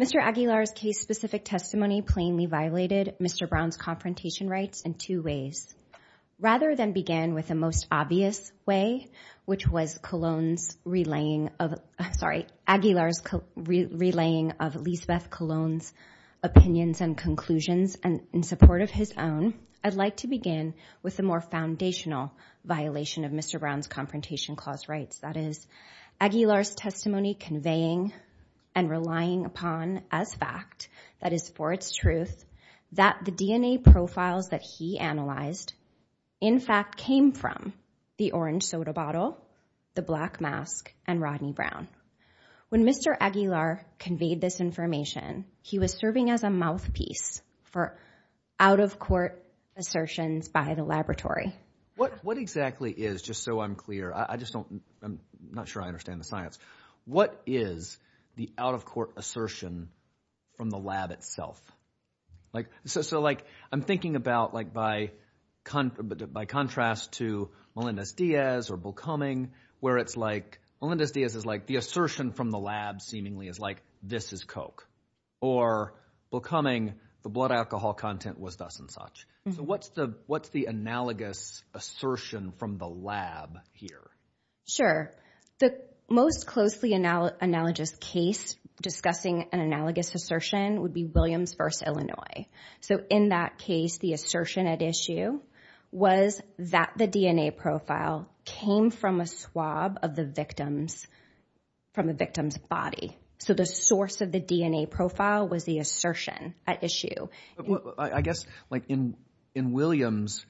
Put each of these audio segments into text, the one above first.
Mr. Aguilar's case-specific testimony plainly violated Rather than begin with the most obvious way, which was Aguilar's relaying of Lisbeth Cologne's opinions and conclusions in support of his own, I'd like to begin with the more foundational violation of Mr. Brown's When Mr. Aguilar conveyed this information, he was serving as a mouthpiece for out-of-court assertions by the laboratory. What exactly is, just so I'm clear, I'm not sure I understand the science, what is the out-of-court assertion from the lab itself? So I'm thinking about, by contrast to Melendez-Diaz or Bulkuming, where it's like, Melendez-Diaz is like, the assertion from the lab seemingly is like, this is coke, or Bulkuming, the blood alcohol content was thus and such. So what's the analogous assertion from the lab here? Sure. The most closely analogous case discussing an analogous assertion would be Williams v. Illinois. So in that case, the assertion at issue was that the DNA profile came from a swab of the victim's body. So the source of the DNA profile was the assertion at issue. I guess, in Williams,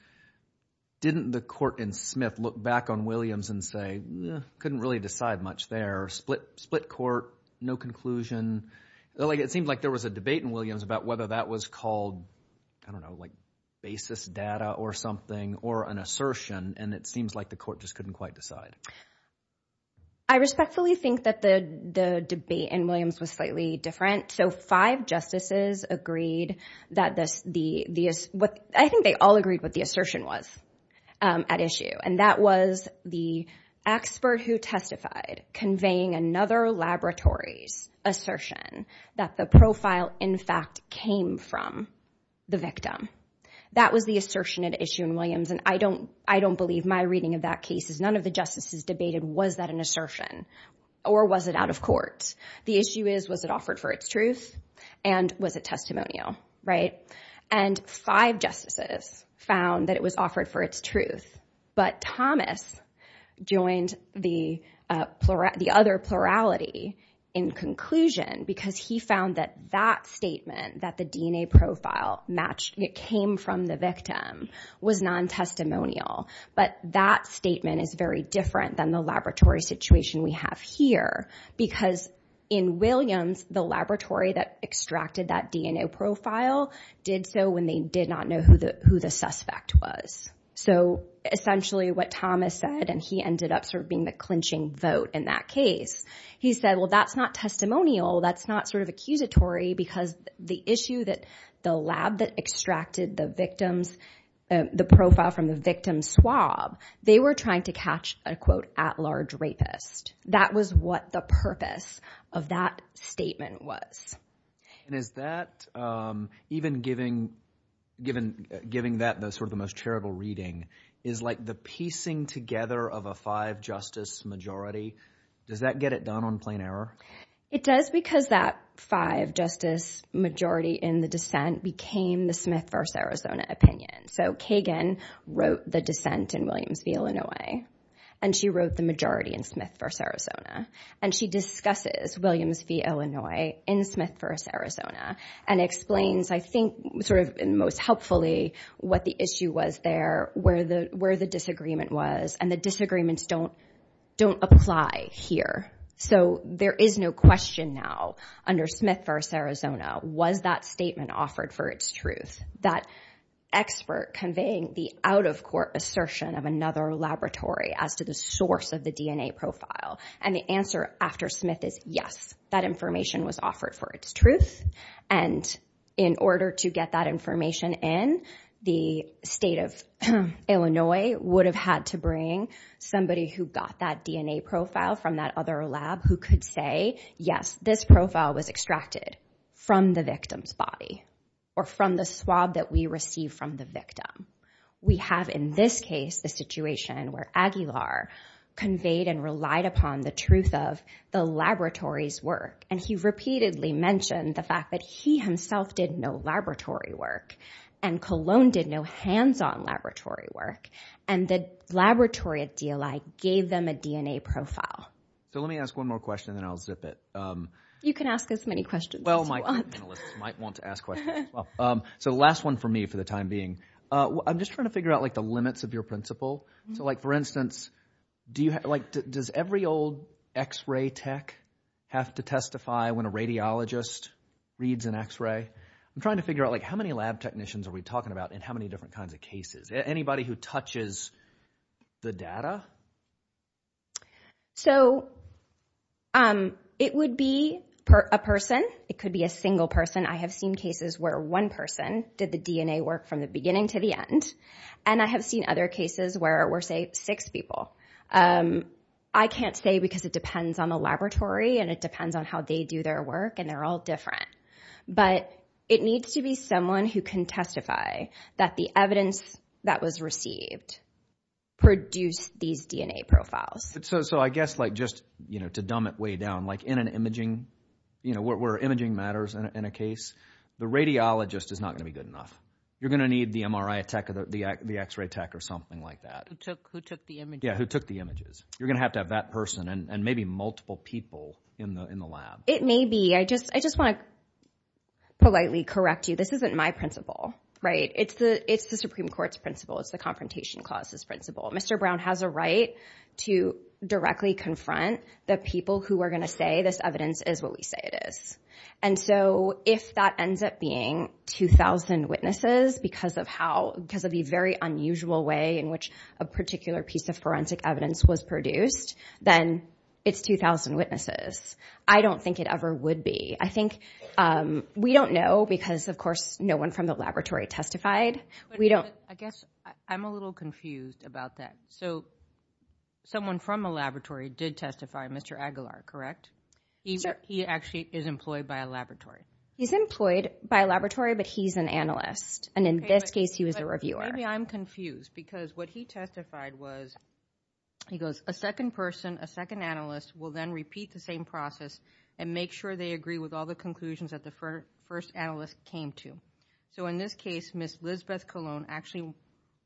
didn't the court in Smith look back on Williams and say, couldn't really decide much there, split court, no conclusion? It seemed like there was a debate in Williams about whether that was called, I don't know, basis data or something, or an assertion, and it seems like the court just couldn't quite decide. I respectfully think that the debate in Williams was slightly different. So five justices agreed, I think they all agreed what the assertion was at issue, and that was the expert who testified, conveying another laboratory's assertion that the profile, in fact, came from the victim. That was the assertion at issue in Williams, and I don't believe my reading of that case is none of the justices debated, was that an assertion, or was it out of court? The issue is, was it offered for its truth, and was it testimonial? And five justices found that it was offered for its truth, but Thomas joined the other plurality in conclusion, because he found that that statement, that the DNA profile came from the victim, was non-testimonial, but that statement is very different than the laboratory situation we have here, because in Williams, the laboratory that extracted that DNA profile did so when they did not know who the suspect was. So essentially what Thomas said, and he ended up being the clinching vote in that case, he said, well, that's not testimonial, that's not sort of accusatory, because the issue that the lab that extracted the profile from the victim's swab, they were trying to catch a, quote, at-large rapist. That was what the purpose of that statement was. And is that, even giving that sort of the most charitable reading, is like the piecing together of a five-justice majority, does that get it done on plain error? It does, because that five-justice majority in the dissent became the Smith v. Arizona opinion. So Kagan wrote the dissent in Williams v. Illinois, and she wrote the majority in Smith v. Arizona, and explains, I think, most helpfully, what the issue was there, where the disagreement was, and the disagreements don't apply here. So there is no question now, under Smith v. Arizona, was that statement offered for its truth? That expert conveying the out-of-court assertion of another laboratory as to the source of the DNA profile. And the answer after Smith is, yes, that information was offered for its truth. And in order to get that information in, the state of Illinois would have had to bring somebody who got that DNA profile from that other lab, who could say, yes, this profile was extracted from the victim's body, or from the swab that we received from the victim. We have, in this case, the situation where Aguilar conveyed and relied upon the truth of the laboratory's work. And he repeatedly mentioned the fact that he himself did no laboratory work, and Cologne did no hands-on laboratory work, and the laboratory at DLI gave them a DNA profile. So let me ask one more question, and then I'll zip it. You can ask as many questions as you want. So the last one for me, for the time being. I'm just trying to figure out the limits of your principle. For instance, does every old x-ray tech have to testify when a radiologist reads an x-ray? I'm trying to figure out how many lab technicians are we talking about, and how many different kinds of cases? Anybody who touches the data? So it would be a person. It could be a single person. I have seen cases where one person did the DNA work from the beginning to the end, and I have seen other cases where it were, say, six people. I can't say because it depends on the laboratory, and it depends on how they do their work, and they're all different. But it needs to be someone who can testify that the lab has these DNA profiles. So I guess just to dumb it way down, where imaging matters in a case, the radiologist is not going to be good enough. You're going to need the MRI tech or the x-ray tech or something like that. Who took the images. You're going to have to have that person and maybe multiple people in the lab. It may be, I just want to politely correct you, this isn't my principle. It's the Supreme Court's principle. It's the Confrontation Clause's principle. Mr. Brown has a right to directly confront the people who are going to say this evidence is what we say it is. And so if that ends up being 2,000 witnesses, because of the very unusual way in which a particular piece of forensic evidence was produced, then it's 2,000 witnesses. I don't think it ever would be. We don't know because, of course, no one from the laboratory testified. I guess I'm a little confused about that. So someone from the laboratory did testify, Mr. Aguilar, correct? He actually is employed by a laboratory. He's employed by a laboratory, but he's an analyst. And in this case, he was a reviewer. Maybe I'm confused because what he testified was, he goes, a second person, a second analyst will then repeat the same process and make sure they agree with all the conclusions that the first analyst came to. So in this case, Ms. Lizbeth Colon actually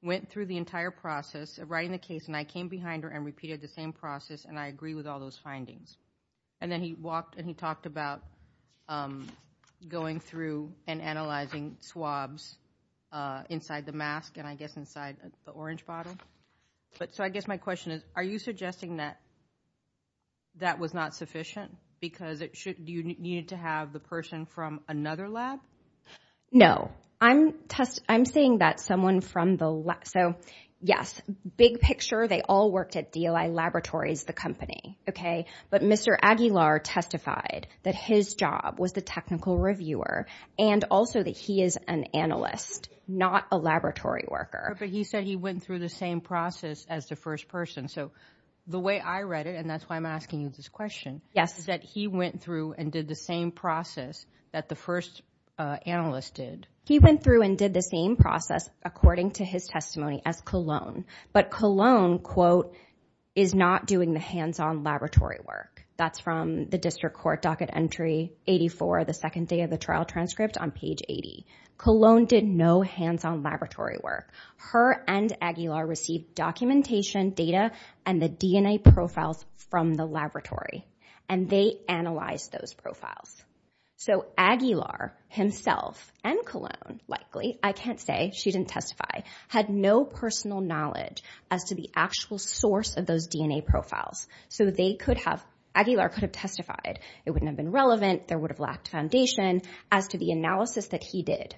went through the entire process of writing the case and I came behind her and repeated the same process and I agree with all those findings. And then he walked and he talked about going through and analyzing swabs inside the mask and I guess inside the orange bottle. So I guess my question is, are you suggesting that that was not sufficient because you needed to have the person from another lab? No. I'm saying that someone from the lab. So yes, big picture, they all worked at DLI Laboratories, the company. But Mr. Aguilar testified that his job was the technical reviewer and also that he is an analyst, not a laboratory worker. But he said he went through the same process as the first person. So the way I read it, and that's why I'm asking you this question, is that he went through and did the same process that the first analyst did. He went through and did the same process, according to his testimony, as Colon. But Colon, quote, is not doing the hands-on laboratory work. That's from the District Court Docket Entry 84, the second day of the trial transcript on page 80. Colon did no hands-on laboratory work. Her and Aguilar received documentation, data, and the DNA profiles from the laboratory and they analyzed those profiles. So Aguilar himself and Colon, likely, I can't say, she didn't testify, had no personal knowledge as to the actual source of those DNA profiles. So they could have, Aguilar could have testified. It wouldn't have been relevant. There would have lacked foundation as to the analysis that he did.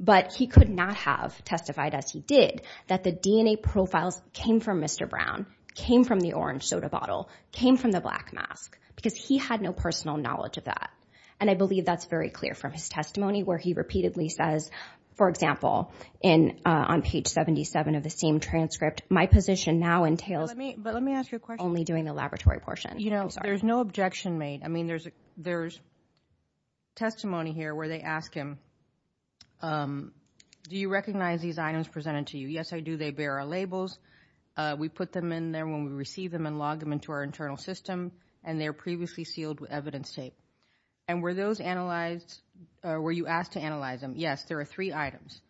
But he could not have testified, as he did, that the DNA profiles came from Mr. Brown, came from the orange soda bottle, came from the black mask, because he had no personal knowledge of that. And I believe that's very clear from his testimony, where he repeatedly says, for example, on page 77 of the same transcript, my position now entails only doing the laboratory portion. You know, there's no objection made. I mean, there's testimony here where they ask him, do you recognize these items presented to you? Yes, I do. They bear our labels. We put them in there when we receive them and log them into our internal system, and they're previously sealed with evidence tape. And were those analyzed, or were you asked to analyze them? Yes, there are three items.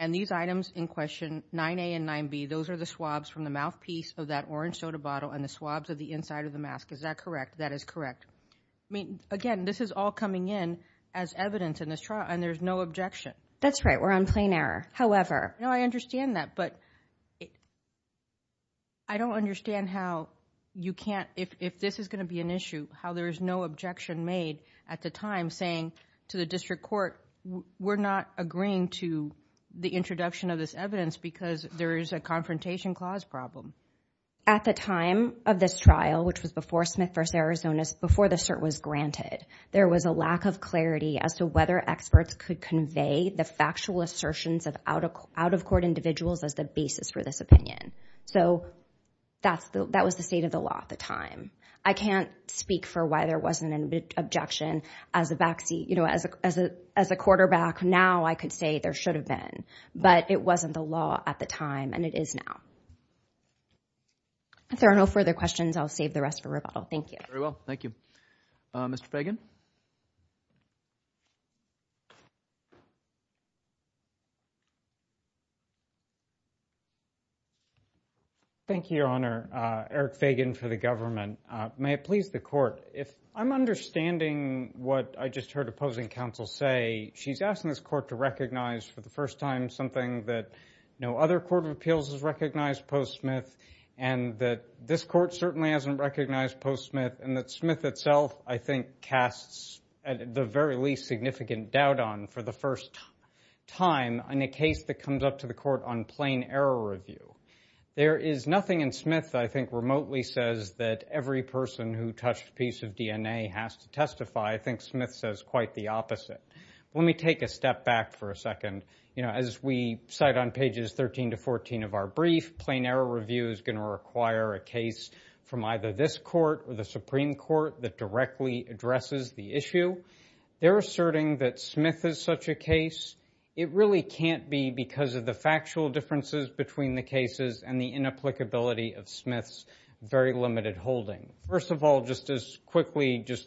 And these items in question, 9A and 9B, those are the swabs from the mouthpiece of that orange soda bottle and the swabs of the inside of the mask. Is that correct? That is correct. I mean, again, this is all coming in as evidence in this trial, and there's no objection. That's right. We're on plain error. However... No, I understand that, but I don't understand how you can't, if this is going to be an issue, how there is no objection made at the time saying to the district court, we're not agreeing to the introduction of this evidence because there is a confrontation clause problem. At the time of this trial, which was before Smith v. Arizona, before the cert was granted, there was a lack of clarity as to whether experts could convey the factual assertions of out-of-court individuals as the basis for this opinion. So that was the state of the law at the time. I can't speak for why there wasn't an objection as a quarterback. Now I could say there should have been, but it wasn't the law at the time, and it is now. If there are no further questions, I'll save the rest for rebuttal. Thank you. Very well. Thank you. Mr. Fagan? Thank you, Your Honor. Eric Fagan for the government. May it please the Court, if I'm understanding what I just heard opposing counsel say, she's asking this Court to recognize for the first time something that no other court of appeals has recognized post-Smith, and that this Court certainly hasn't recognized post-Smith, and that Smith itself, I think, casts the very least significant doubt on for the first time in a case that comes up to the Court on plain error review. There is nothing in Smith that I think remotely says that every person who touched a piece of DNA has to testify. I think Smith says quite the opposite. Let me take a step back for a second. As we cite on pages 13 to 14 of our brief, plain error review is going to require a case from either this Court or the Supreme Court that directly addresses the issue. They're asserting that Smith is such a case. It really can't be because of the factual differences between the cases and the inapplicability of Smith's very limited holding. First of all, just as quickly as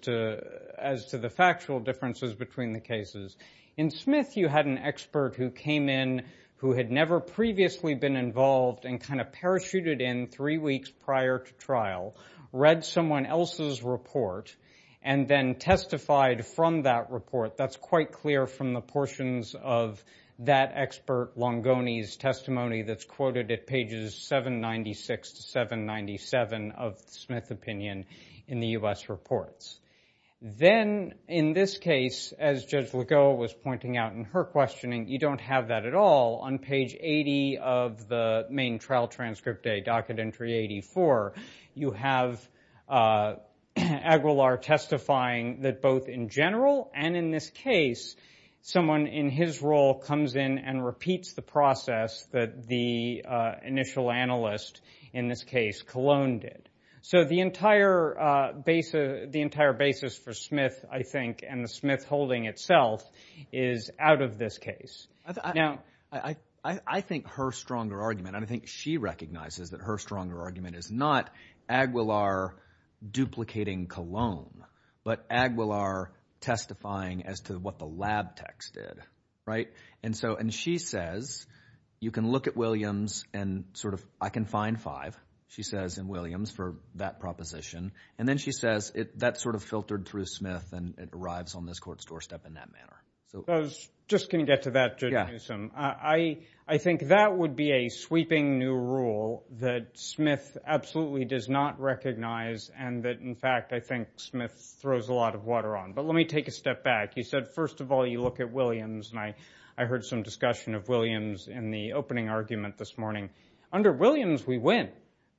to the factual differences between the cases, in Smith you had an expert who came in who had never previously been involved and kind of parachuted in three weeks prior to trial, read someone else's report, and then testified from that report. That's quite clear from the portions of that expert Longoni's testimony that's quoted at pages 796 to 797 of the Smith opinion in the U.S. reports. Then in this case, as Judge Legault was pointing out in her questioning, you don't have that at all. On page 80 of the main trial transcript, a documentary 84, you have Aguilar testifying that both in general and in this case, someone in his role comes in and repeats the process that the initial analyst, in this case, Colon, did. The entire basis for Smith, I think, and the Smith holding itself is out of this case. I think her stronger argument, and I think she recognizes that her stronger argument is not Aguilar duplicating Colon, but Aguilar testifying as to what the lab techs did. She says, you can look at Williams and sort of, I can find five, she says, in Williams for that proposition. Then she says, that sort of filtered through Smith and it arrives on this court's doorstep in that manner. I think that would be a sweeping new rule that Smith absolutely does not recognize and that, in fact, I think Smith throws a lot of water on. But let me take a step back. You said, first of all, you look at Williams and I heard some discussion of Williams in the opening argument this morning. Under Williams, we win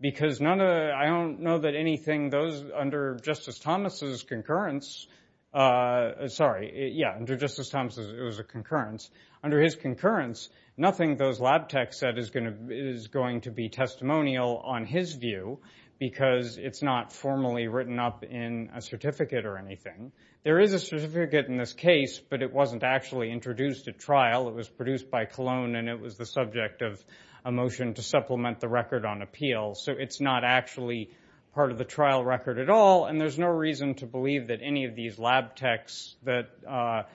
because I don't know that anything under Justice Thomas' concurrence, sorry, yeah, under Justice Thomas' it was a concurrence. Under his concurrence, nothing those lab techs said is going to be testimonial on his view because it's not formally written up in a certificate or anything. There is a certificate in this case, but it wasn't actually introduced at trial. It was produced by Colon and it was the subject of a motion to supplement the record on appeal. So it's not actually part of the trial record at all, and there's no reason to believe that any of these lab techs that are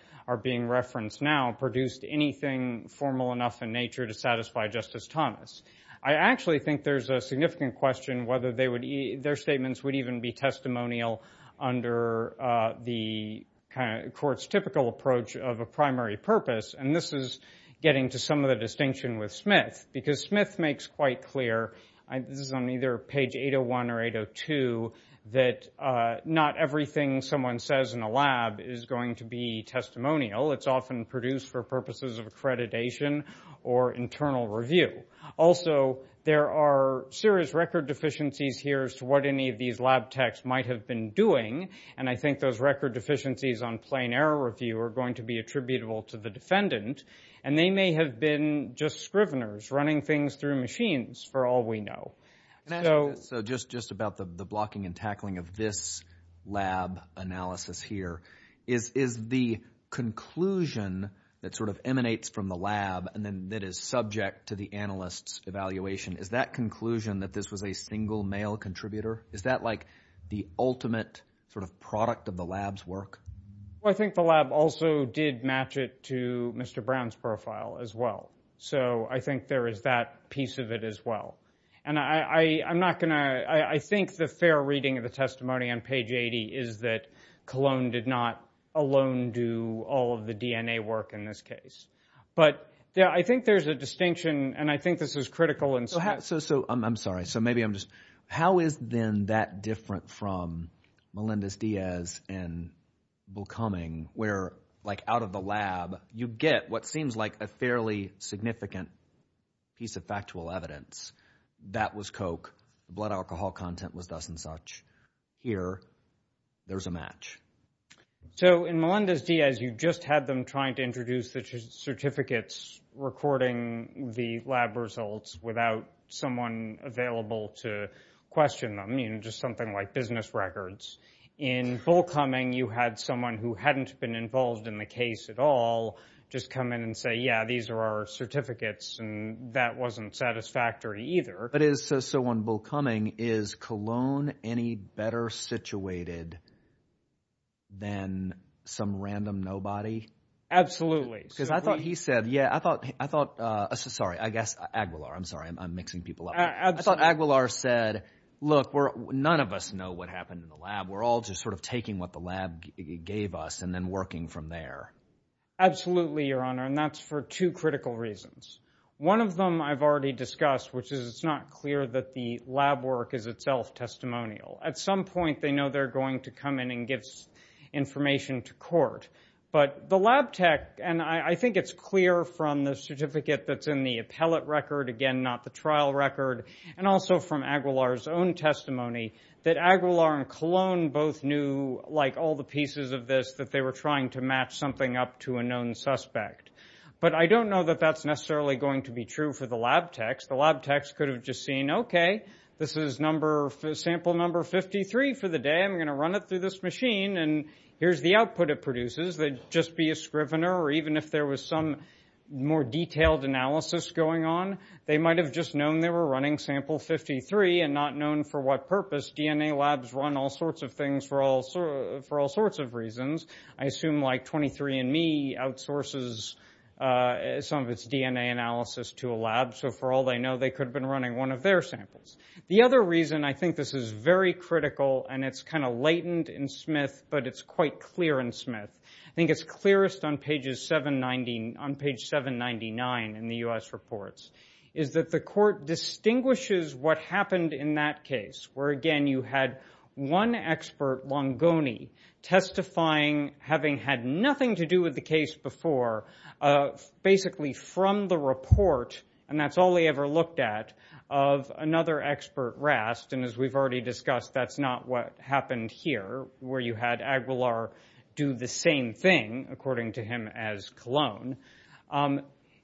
being referenced now produced anything formal enough in nature to satisfy Justice Thomas. I actually think there's a significant question whether their statements would even be testimonial under the court's typical approach of a primary purpose. And this is getting to some of the distinction with Smith because Smith makes quite clear, this is on either page 801 or 802, that not everything someone says in a lab is going to be testimonial. It's often produced for purposes of accreditation or internal review. Also, there are serious record deficiencies here as to what any of these lab techs might have been doing, and I think those record deficiencies on plain error review are going to be attributable to the defendant, and they may have been just scriveners running things through machines for all we know. So just about the blocking and tackling of this lab analysis here, is the conclusion that sort of emanates from the lab and then that is subject to the analyst's evaluation, is that conclusion that this was a single male contributor, is that like the ultimate sort of product of the lab's work? Well, I think the lab also did match it to Mr. Brown's profile as well, so I think there is that piece of it as well. And I'm not going to, I think the fair reading of the testimony on page 80 is that Cologne did not alone do all of the DNA work in this case. But I think there's a distinction, and I think this is critical. So I'm sorry, so maybe I'm just, how is then that different from Melendez-Diaz and Volkoming, where like out of the lab you get what seems like a fairly significant piece of factual evidence, that was Coke, blood alcohol content was thus and such. Here, there's a match. So in Melendez-Diaz you just had them trying to introduce the certificates recording the lab results without someone available to question them, just something like business records. In Volkoming you had someone who hadn't been involved in the case at all just come in and say, yeah, these are our certificates, and that wasn't satisfactory either. But so on Volkoming, is Cologne any better situated than some random nobody? Absolutely. Sorry, I guess Aguilar. I'm sorry, I'm mixing people up. I thought Aguilar said, look, none of us know what happened in the lab. We're all just sort of taking what the lab gave us and then working from there. Absolutely, Your Honor, and that's for two critical reasons. One of them I've already discussed, which is it's not clear that the lab work is itself testimonial. At some point they know they're going to come in and give information to court. But the lab tech, and I think it's clear from the certificate that's in the appellate record, again, not the trial record, and also from Aguilar's own testimony, that Aguilar and Cologne both knew, like all the pieces of this, that they were trying to match something up to a known suspect. But I don't know that that's necessarily going to be true for the lab techs. The lab techs could have just seen, okay, this is sample number 53 for the day. I'm going to run it through this machine, and here's the output it produces. They'd just be a scrivener, or even if there was some more detailed analysis going on, they might have just known they were running sample 53 and not known for what purpose. DNA labs run all sorts of things for all sorts of reasons. I assume like 23andMe outsources some of its DNA analysis to a lab, so for all they know, they could have been running one of their samples. The other reason I think this is very critical, and it's kind of latent in Smith, but it's quite clear in Smith, I think it's clearest on page 799 in the U.S. reports, is that the court distinguishes what happened in that case, where, again, you had one expert, Longoni, testifying, having had nothing to do with the case before, basically from the report, and that's all they ever looked at, of another expert, Rast, and as we've already discussed, that's not what happened here, where you had Aguilar do the same thing, according to him as Cologne.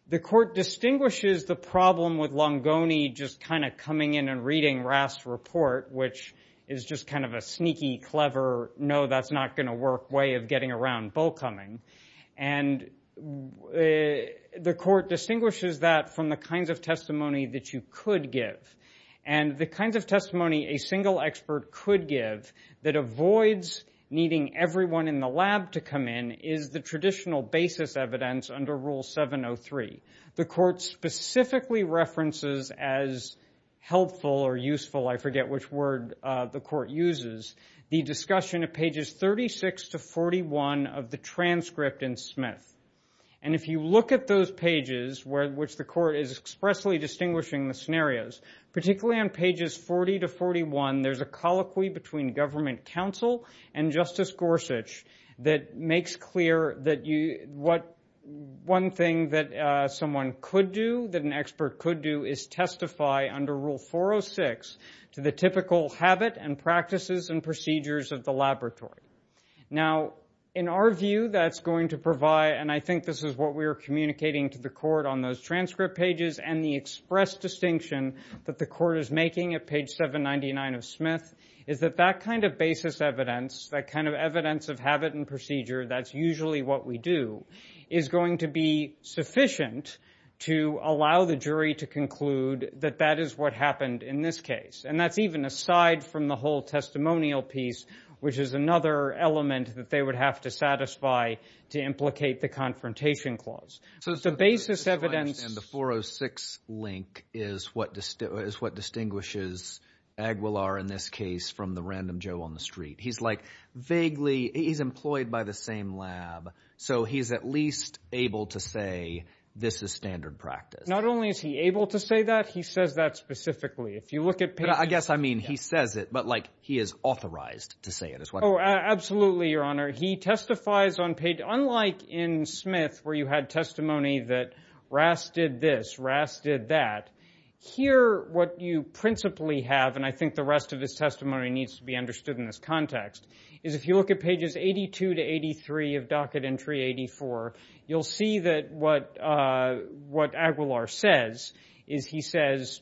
The court distinguishes the problem with Longoni just kind of coming in and reading Rast's report, which is just kind of a sneaky, clever, no, that's not going to work way of getting around bull coming, and the court distinguishes that from the kinds of testimony that you could give, and the kinds of testimony a single expert could give that avoids needing everyone in the lab to come in is the traditional basis evidence under Rule 703. The court specifically references as helpful or useful, I forget which word the court uses, the discussion of pages 36 to 41 of the transcript in Smith, and if you look at those pages, which the court is expressly distinguishing the scenarios, particularly on pages 40 to 41, there's a colloquy between government counsel and Justice Gorsuch that makes clear that one thing that someone could do, that an expert could do, is testify under Rule 406 to the typical habit and practices and procedures of the laboratory. Now, in our view, that's going to provide, and I think this is what we are communicating to the court on those transcript pages and the express distinction that the court is making at page 799 of Smith, is that that kind of basis evidence, that kind of evidence of habit and procedure, that's usually what we do, is going to be sufficient to allow the jury to conclude that that is what happened in this case. And that's even aside from the whole testimonial piece, which is another element that they would have to satisfy to implicate the Confrontation Clause. So it's the basis evidence. The 406 link is what distinguishes Aguilar in this case from the random Joe on the street. He's like vaguely—he's employed by the same lab, so he's at least able to say this is standard practice. Not only is he able to say that, he says that specifically. If you look at pages— I guess I mean he says it, but like he is authorized to say it. Oh, absolutely, Your Honor. He testifies on page—unlike in Smith where you had testimony that Rass did this, Rass did that, here what you principally have, and I think the rest of his testimony needs to be understood in this context, is if you look at pages 82 to 83 of Docket Entry 84, you'll see that what Aguilar says is he says,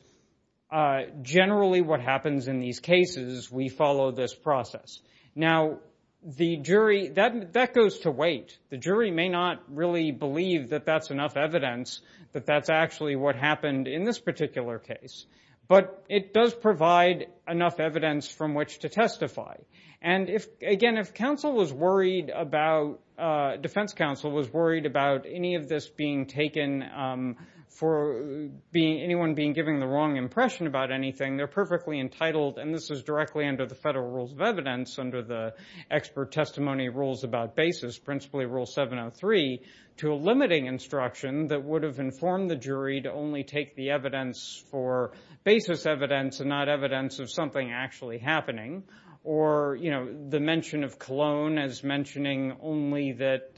generally what happens in these cases, we follow this process. Now, the jury—that goes to wait. The jury may not really believe that that's enough evidence that that's actually what happened in this particular case, but it does provide enough evidence from which to testify. And again, if counsel was worried about—Defense counsel was worried about any of this being taken for anyone being given the wrong impression about anything, they're perfectly entitled, and this is directly under the federal rules of evidence under the expert testimony rules about basis, principally Rule 703, to a limiting instruction that would have informed the jury to only take the evidence for basis evidence and not evidence of something actually happening, or, you know, the mention of Cologne as mentioning only that,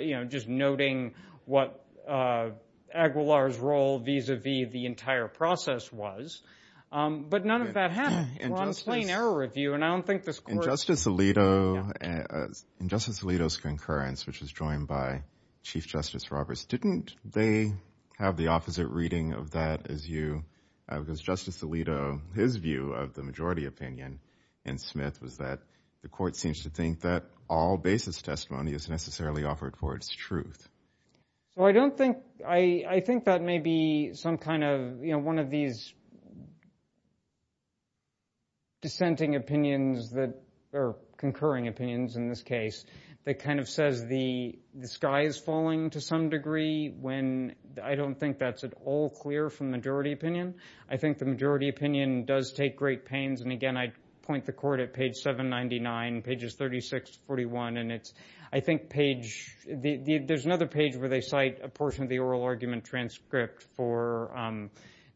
you know, just noting what Aguilar's role vis-a-vis the entire process was. But none of that happened. We're on a plain error review, and I don't think this court— In Justice Alito's concurrence, which was joined by Chief Justice Roberts, didn't they have the opposite reading of that as you—because Justice Alito, his view of the majority opinion in Smith was that the court seems to think that all basis testimony is necessarily offered for its truth. Well, I don't think—I think that may be some kind of, you know, one of these dissenting opinions that— or concurring opinions, in this case, that kind of says the sky is falling to some degree when I don't think that's at all clear from majority opinion. I think the majority opinion does take great pains, and again, I'd point the court at page 799, pages 36 to 41, and it's—I think page—there's another page where they cite a portion of the oral argument transcript for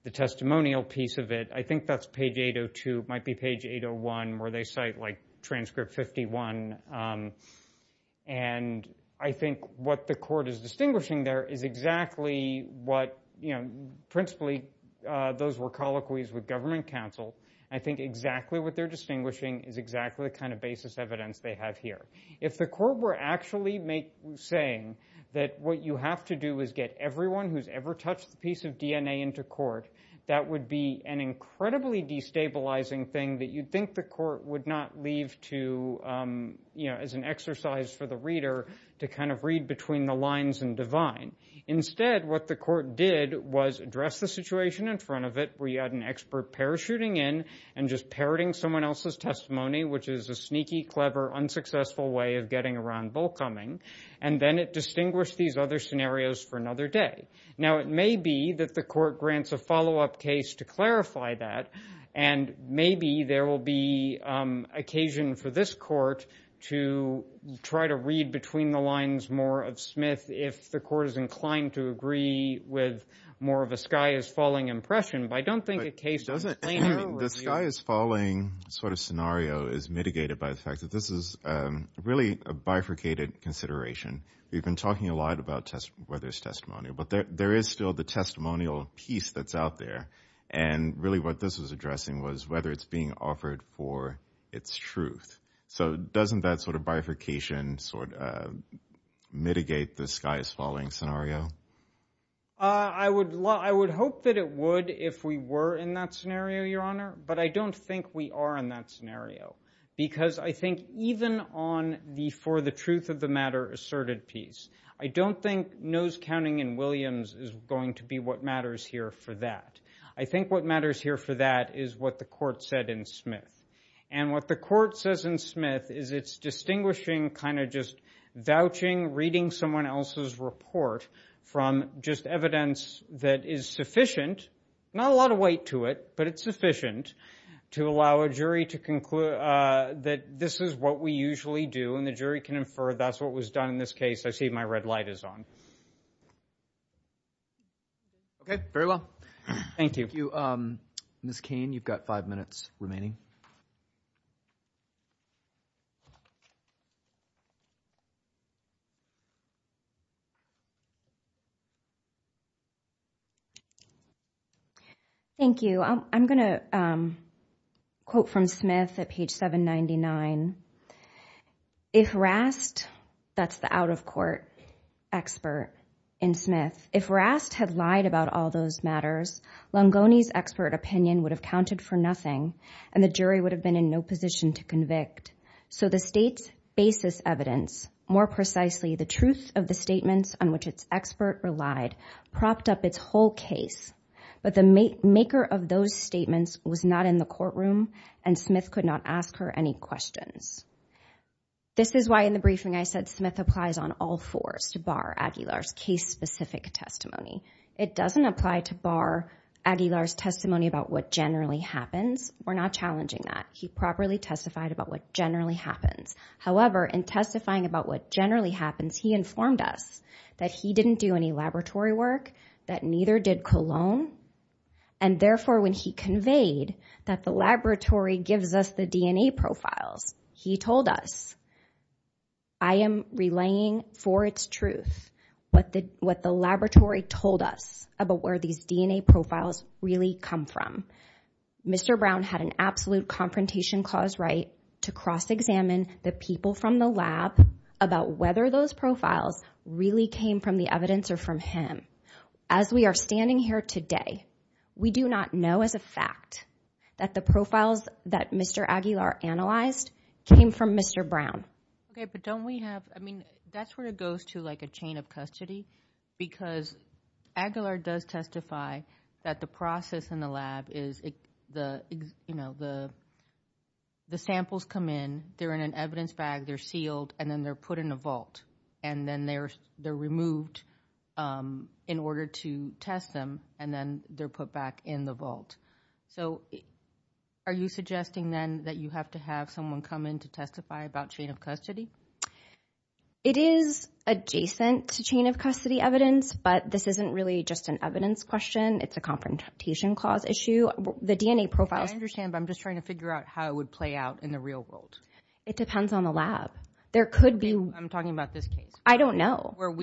the testimonial piece of it. I think that's page 802. It might be page 801 where they cite, like, transcript 51. And I think what the court is distinguishing there is exactly what, you know, principally those were colloquies with government counsel. I think exactly what they're distinguishing is exactly the kind of basis evidence they have here. If the court were actually saying that what you have to do is get everyone who's ever touched the piece of DNA into court, that would be an incredibly destabilizing thing that you'd think the court would not leave to, you know, as an exercise for the reader to kind of read between the lines and divine. Instead, what the court did was address the situation in front of it where you had an expert parachuting in and just parroting someone else's testimony, which is a sneaky, clever, unsuccessful way of getting around bullcumming. And then it distinguished these other scenarios for another day. Now, it may be that the court grants a follow-up case to clarify that, and maybe there will be occasion for this court to try to read between the lines more of Smith if the court is inclined to agree with more of a sky-is-falling impression. But I don't think a case— The sky-is-falling sort of scenario is mitigated by the fact that this is really a bifurcated consideration. We've been talking a lot about whether it's testimonial, but there is still the testimonial piece that's out there. And really what this was addressing was whether it's being offered for its truth. So doesn't that sort of bifurcation sort of mitigate the sky-is-falling scenario? I would hope that it would if we were in that scenario, Your Honor, but I don't think we are in that scenario because I think even on the for-the-truth-of-the-matter asserted piece, I don't think nose-counting in Williams is going to be what matters here for that. I think what matters here for that is what the court said in Smith. And what the court says in Smith is it's distinguishing kind of just vouching, reading someone else's report from just evidence that is sufficient— not a lot of weight to it, but it's sufficient— to allow a jury to conclude that this is what we usually do, and the jury can infer that's what was done in this case. I see my red light is on. Okay, very well. Thank you. Ms. Cain, you've got five minutes remaining. Thank you. I'm going to quote from Smith at page 799. If Rast—that's the out-of-court expert in Smith— if Rast had lied about all those matters, Longoni's expert opinion would have counted for nothing, and the jury would have been in no position to convict. So the state's basis evidence, more precisely, the jury's basis evidence, the truth of the statements on which its expert relied, propped up its whole case, but the maker of those statements was not in the courtroom, and Smith could not ask her any questions. This is why in the briefing I said Smith applies on all fours to bar Aguilar's case-specific testimony. It doesn't apply to bar Aguilar's testimony about what generally happens. We're not challenging that. He properly testified about what generally happens. However, in testifying about what generally happens, he informed us that he didn't do any laboratory work, that neither did Colon, and therefore when he conveyed that the laboratory gives us the DNA profiles, he told us, I am relaying for its truth what the laboratory told us about where these DNA profiles really come from. Mr. Brown had an absolute confrontation cause right to cross-examine the people from the lab about whether those profiles really came from the evidence or from him. As we are standing here today, we do not know as a fact that the profiles that Mr. Aguilar analyzed came from Mr. Brown. Okay, but don't we have, I mean, that's where it goes to like a chain of custody because Aguilar does testify that the process in the lab is, you know, the samples come in, they're in an evidence bag, they're sealed, and then they're put in a vault, and then they're removed in order to test them, and then they're put back in the vault. So are you suggesting then that you have to have someone come in to testify about chain of custody? It is adjacent to chain of custody evidence, but this isn't really just an evidence question. It's a confrontation clause issue. The DNA profiles— I understand, but I'm just trying to figure out how it would play out in the real world. It depends on the lab. There could be— I'm talking about this case. I don't know. Well,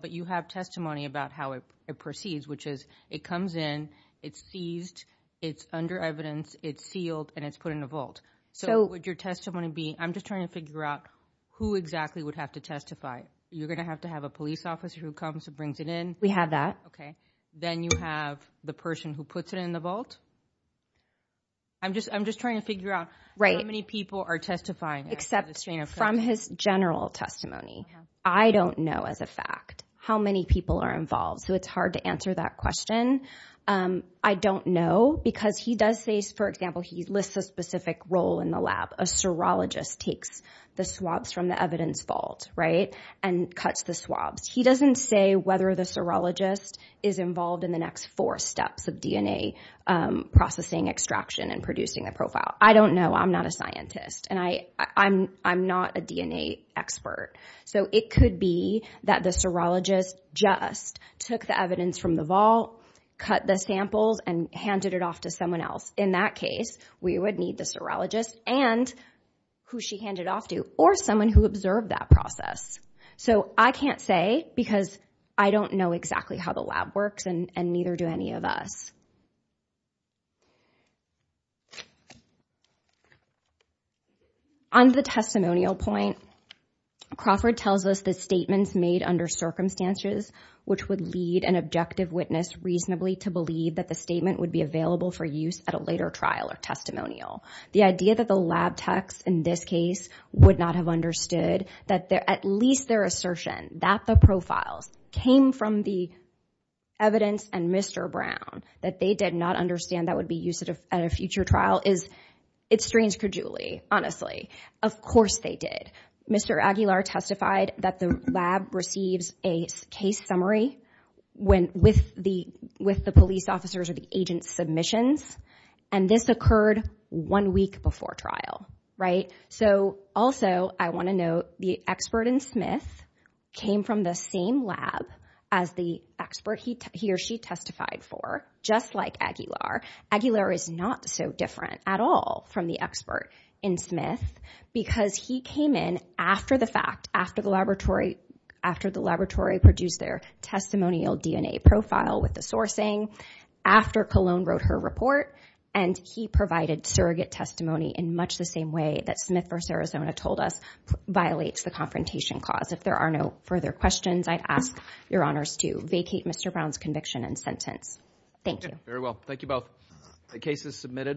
but you have testimony about how it proceeds, which is it comes in, it's seized, it's under evidence, it's sealed, and it's put in a vault. So would your testimony be— I'm just trying to figure out who exactly would have to testify. You're going to have to have a police officer who comes and brings it in? We have that. Okay. Then you have the person who puts it in the vault? I'm just trying to figure out how many people are testifying. Except from his general testimony. I don't know as a fact how many people are involved, so it's hard to answer that question. I don't know because he does say, for example, he lists a specific role in the lab, a serologist takes the swabs from the evidence vault, right, and cuts the swabs. He doesn't say whether the serologist is involved in the next four steps of DNA processing, extraction, and producing the profile. I don't know. I'm not a scientist, and I'm not a DNA expert. So it could be that the serologist just took the evidence from the vault, cut the samples, and handed it off to someone else. In that case, we would need the serologist and who she handed it off to, or someone who observed that process. So I can't say because I don't know exactly how the lab works, and neither do any of us. On the testimonial point, Crawford tells us the statements made under circumstances, which would lead an objective witness reasonably to believe that the statement would be available for use at a later trial or testimonial. The idea that the lab techs in this case would not have understood that at least their assertion that the profiles came from the evidence and Mr. Brown, that they did not understand that would be used at a future trial, it strains credulity, honestly. Of course they did. Mr. Aguilar testified that the lab receives a case summary with the police officers or the agent's submissions, and this occurred one week before trial. So also I want to note the expert in Smith came from the same lab as the expert he or she testified for, just like Aguilar. Aguilar is not so different at all from the expert in Smith because he came in after the fact, after the laboratory produced their testimonial DNA profile with the sourcing, after Colon wrote her report, and he provided surrogate testimony in much the same way that Smith v. Arizona told us violates the confrontation clause. If there are no further questions, I ask your honors to vacate Mr. Brown's conviction and sentence. Thank you. Very well. Thank you both. The case is submitted.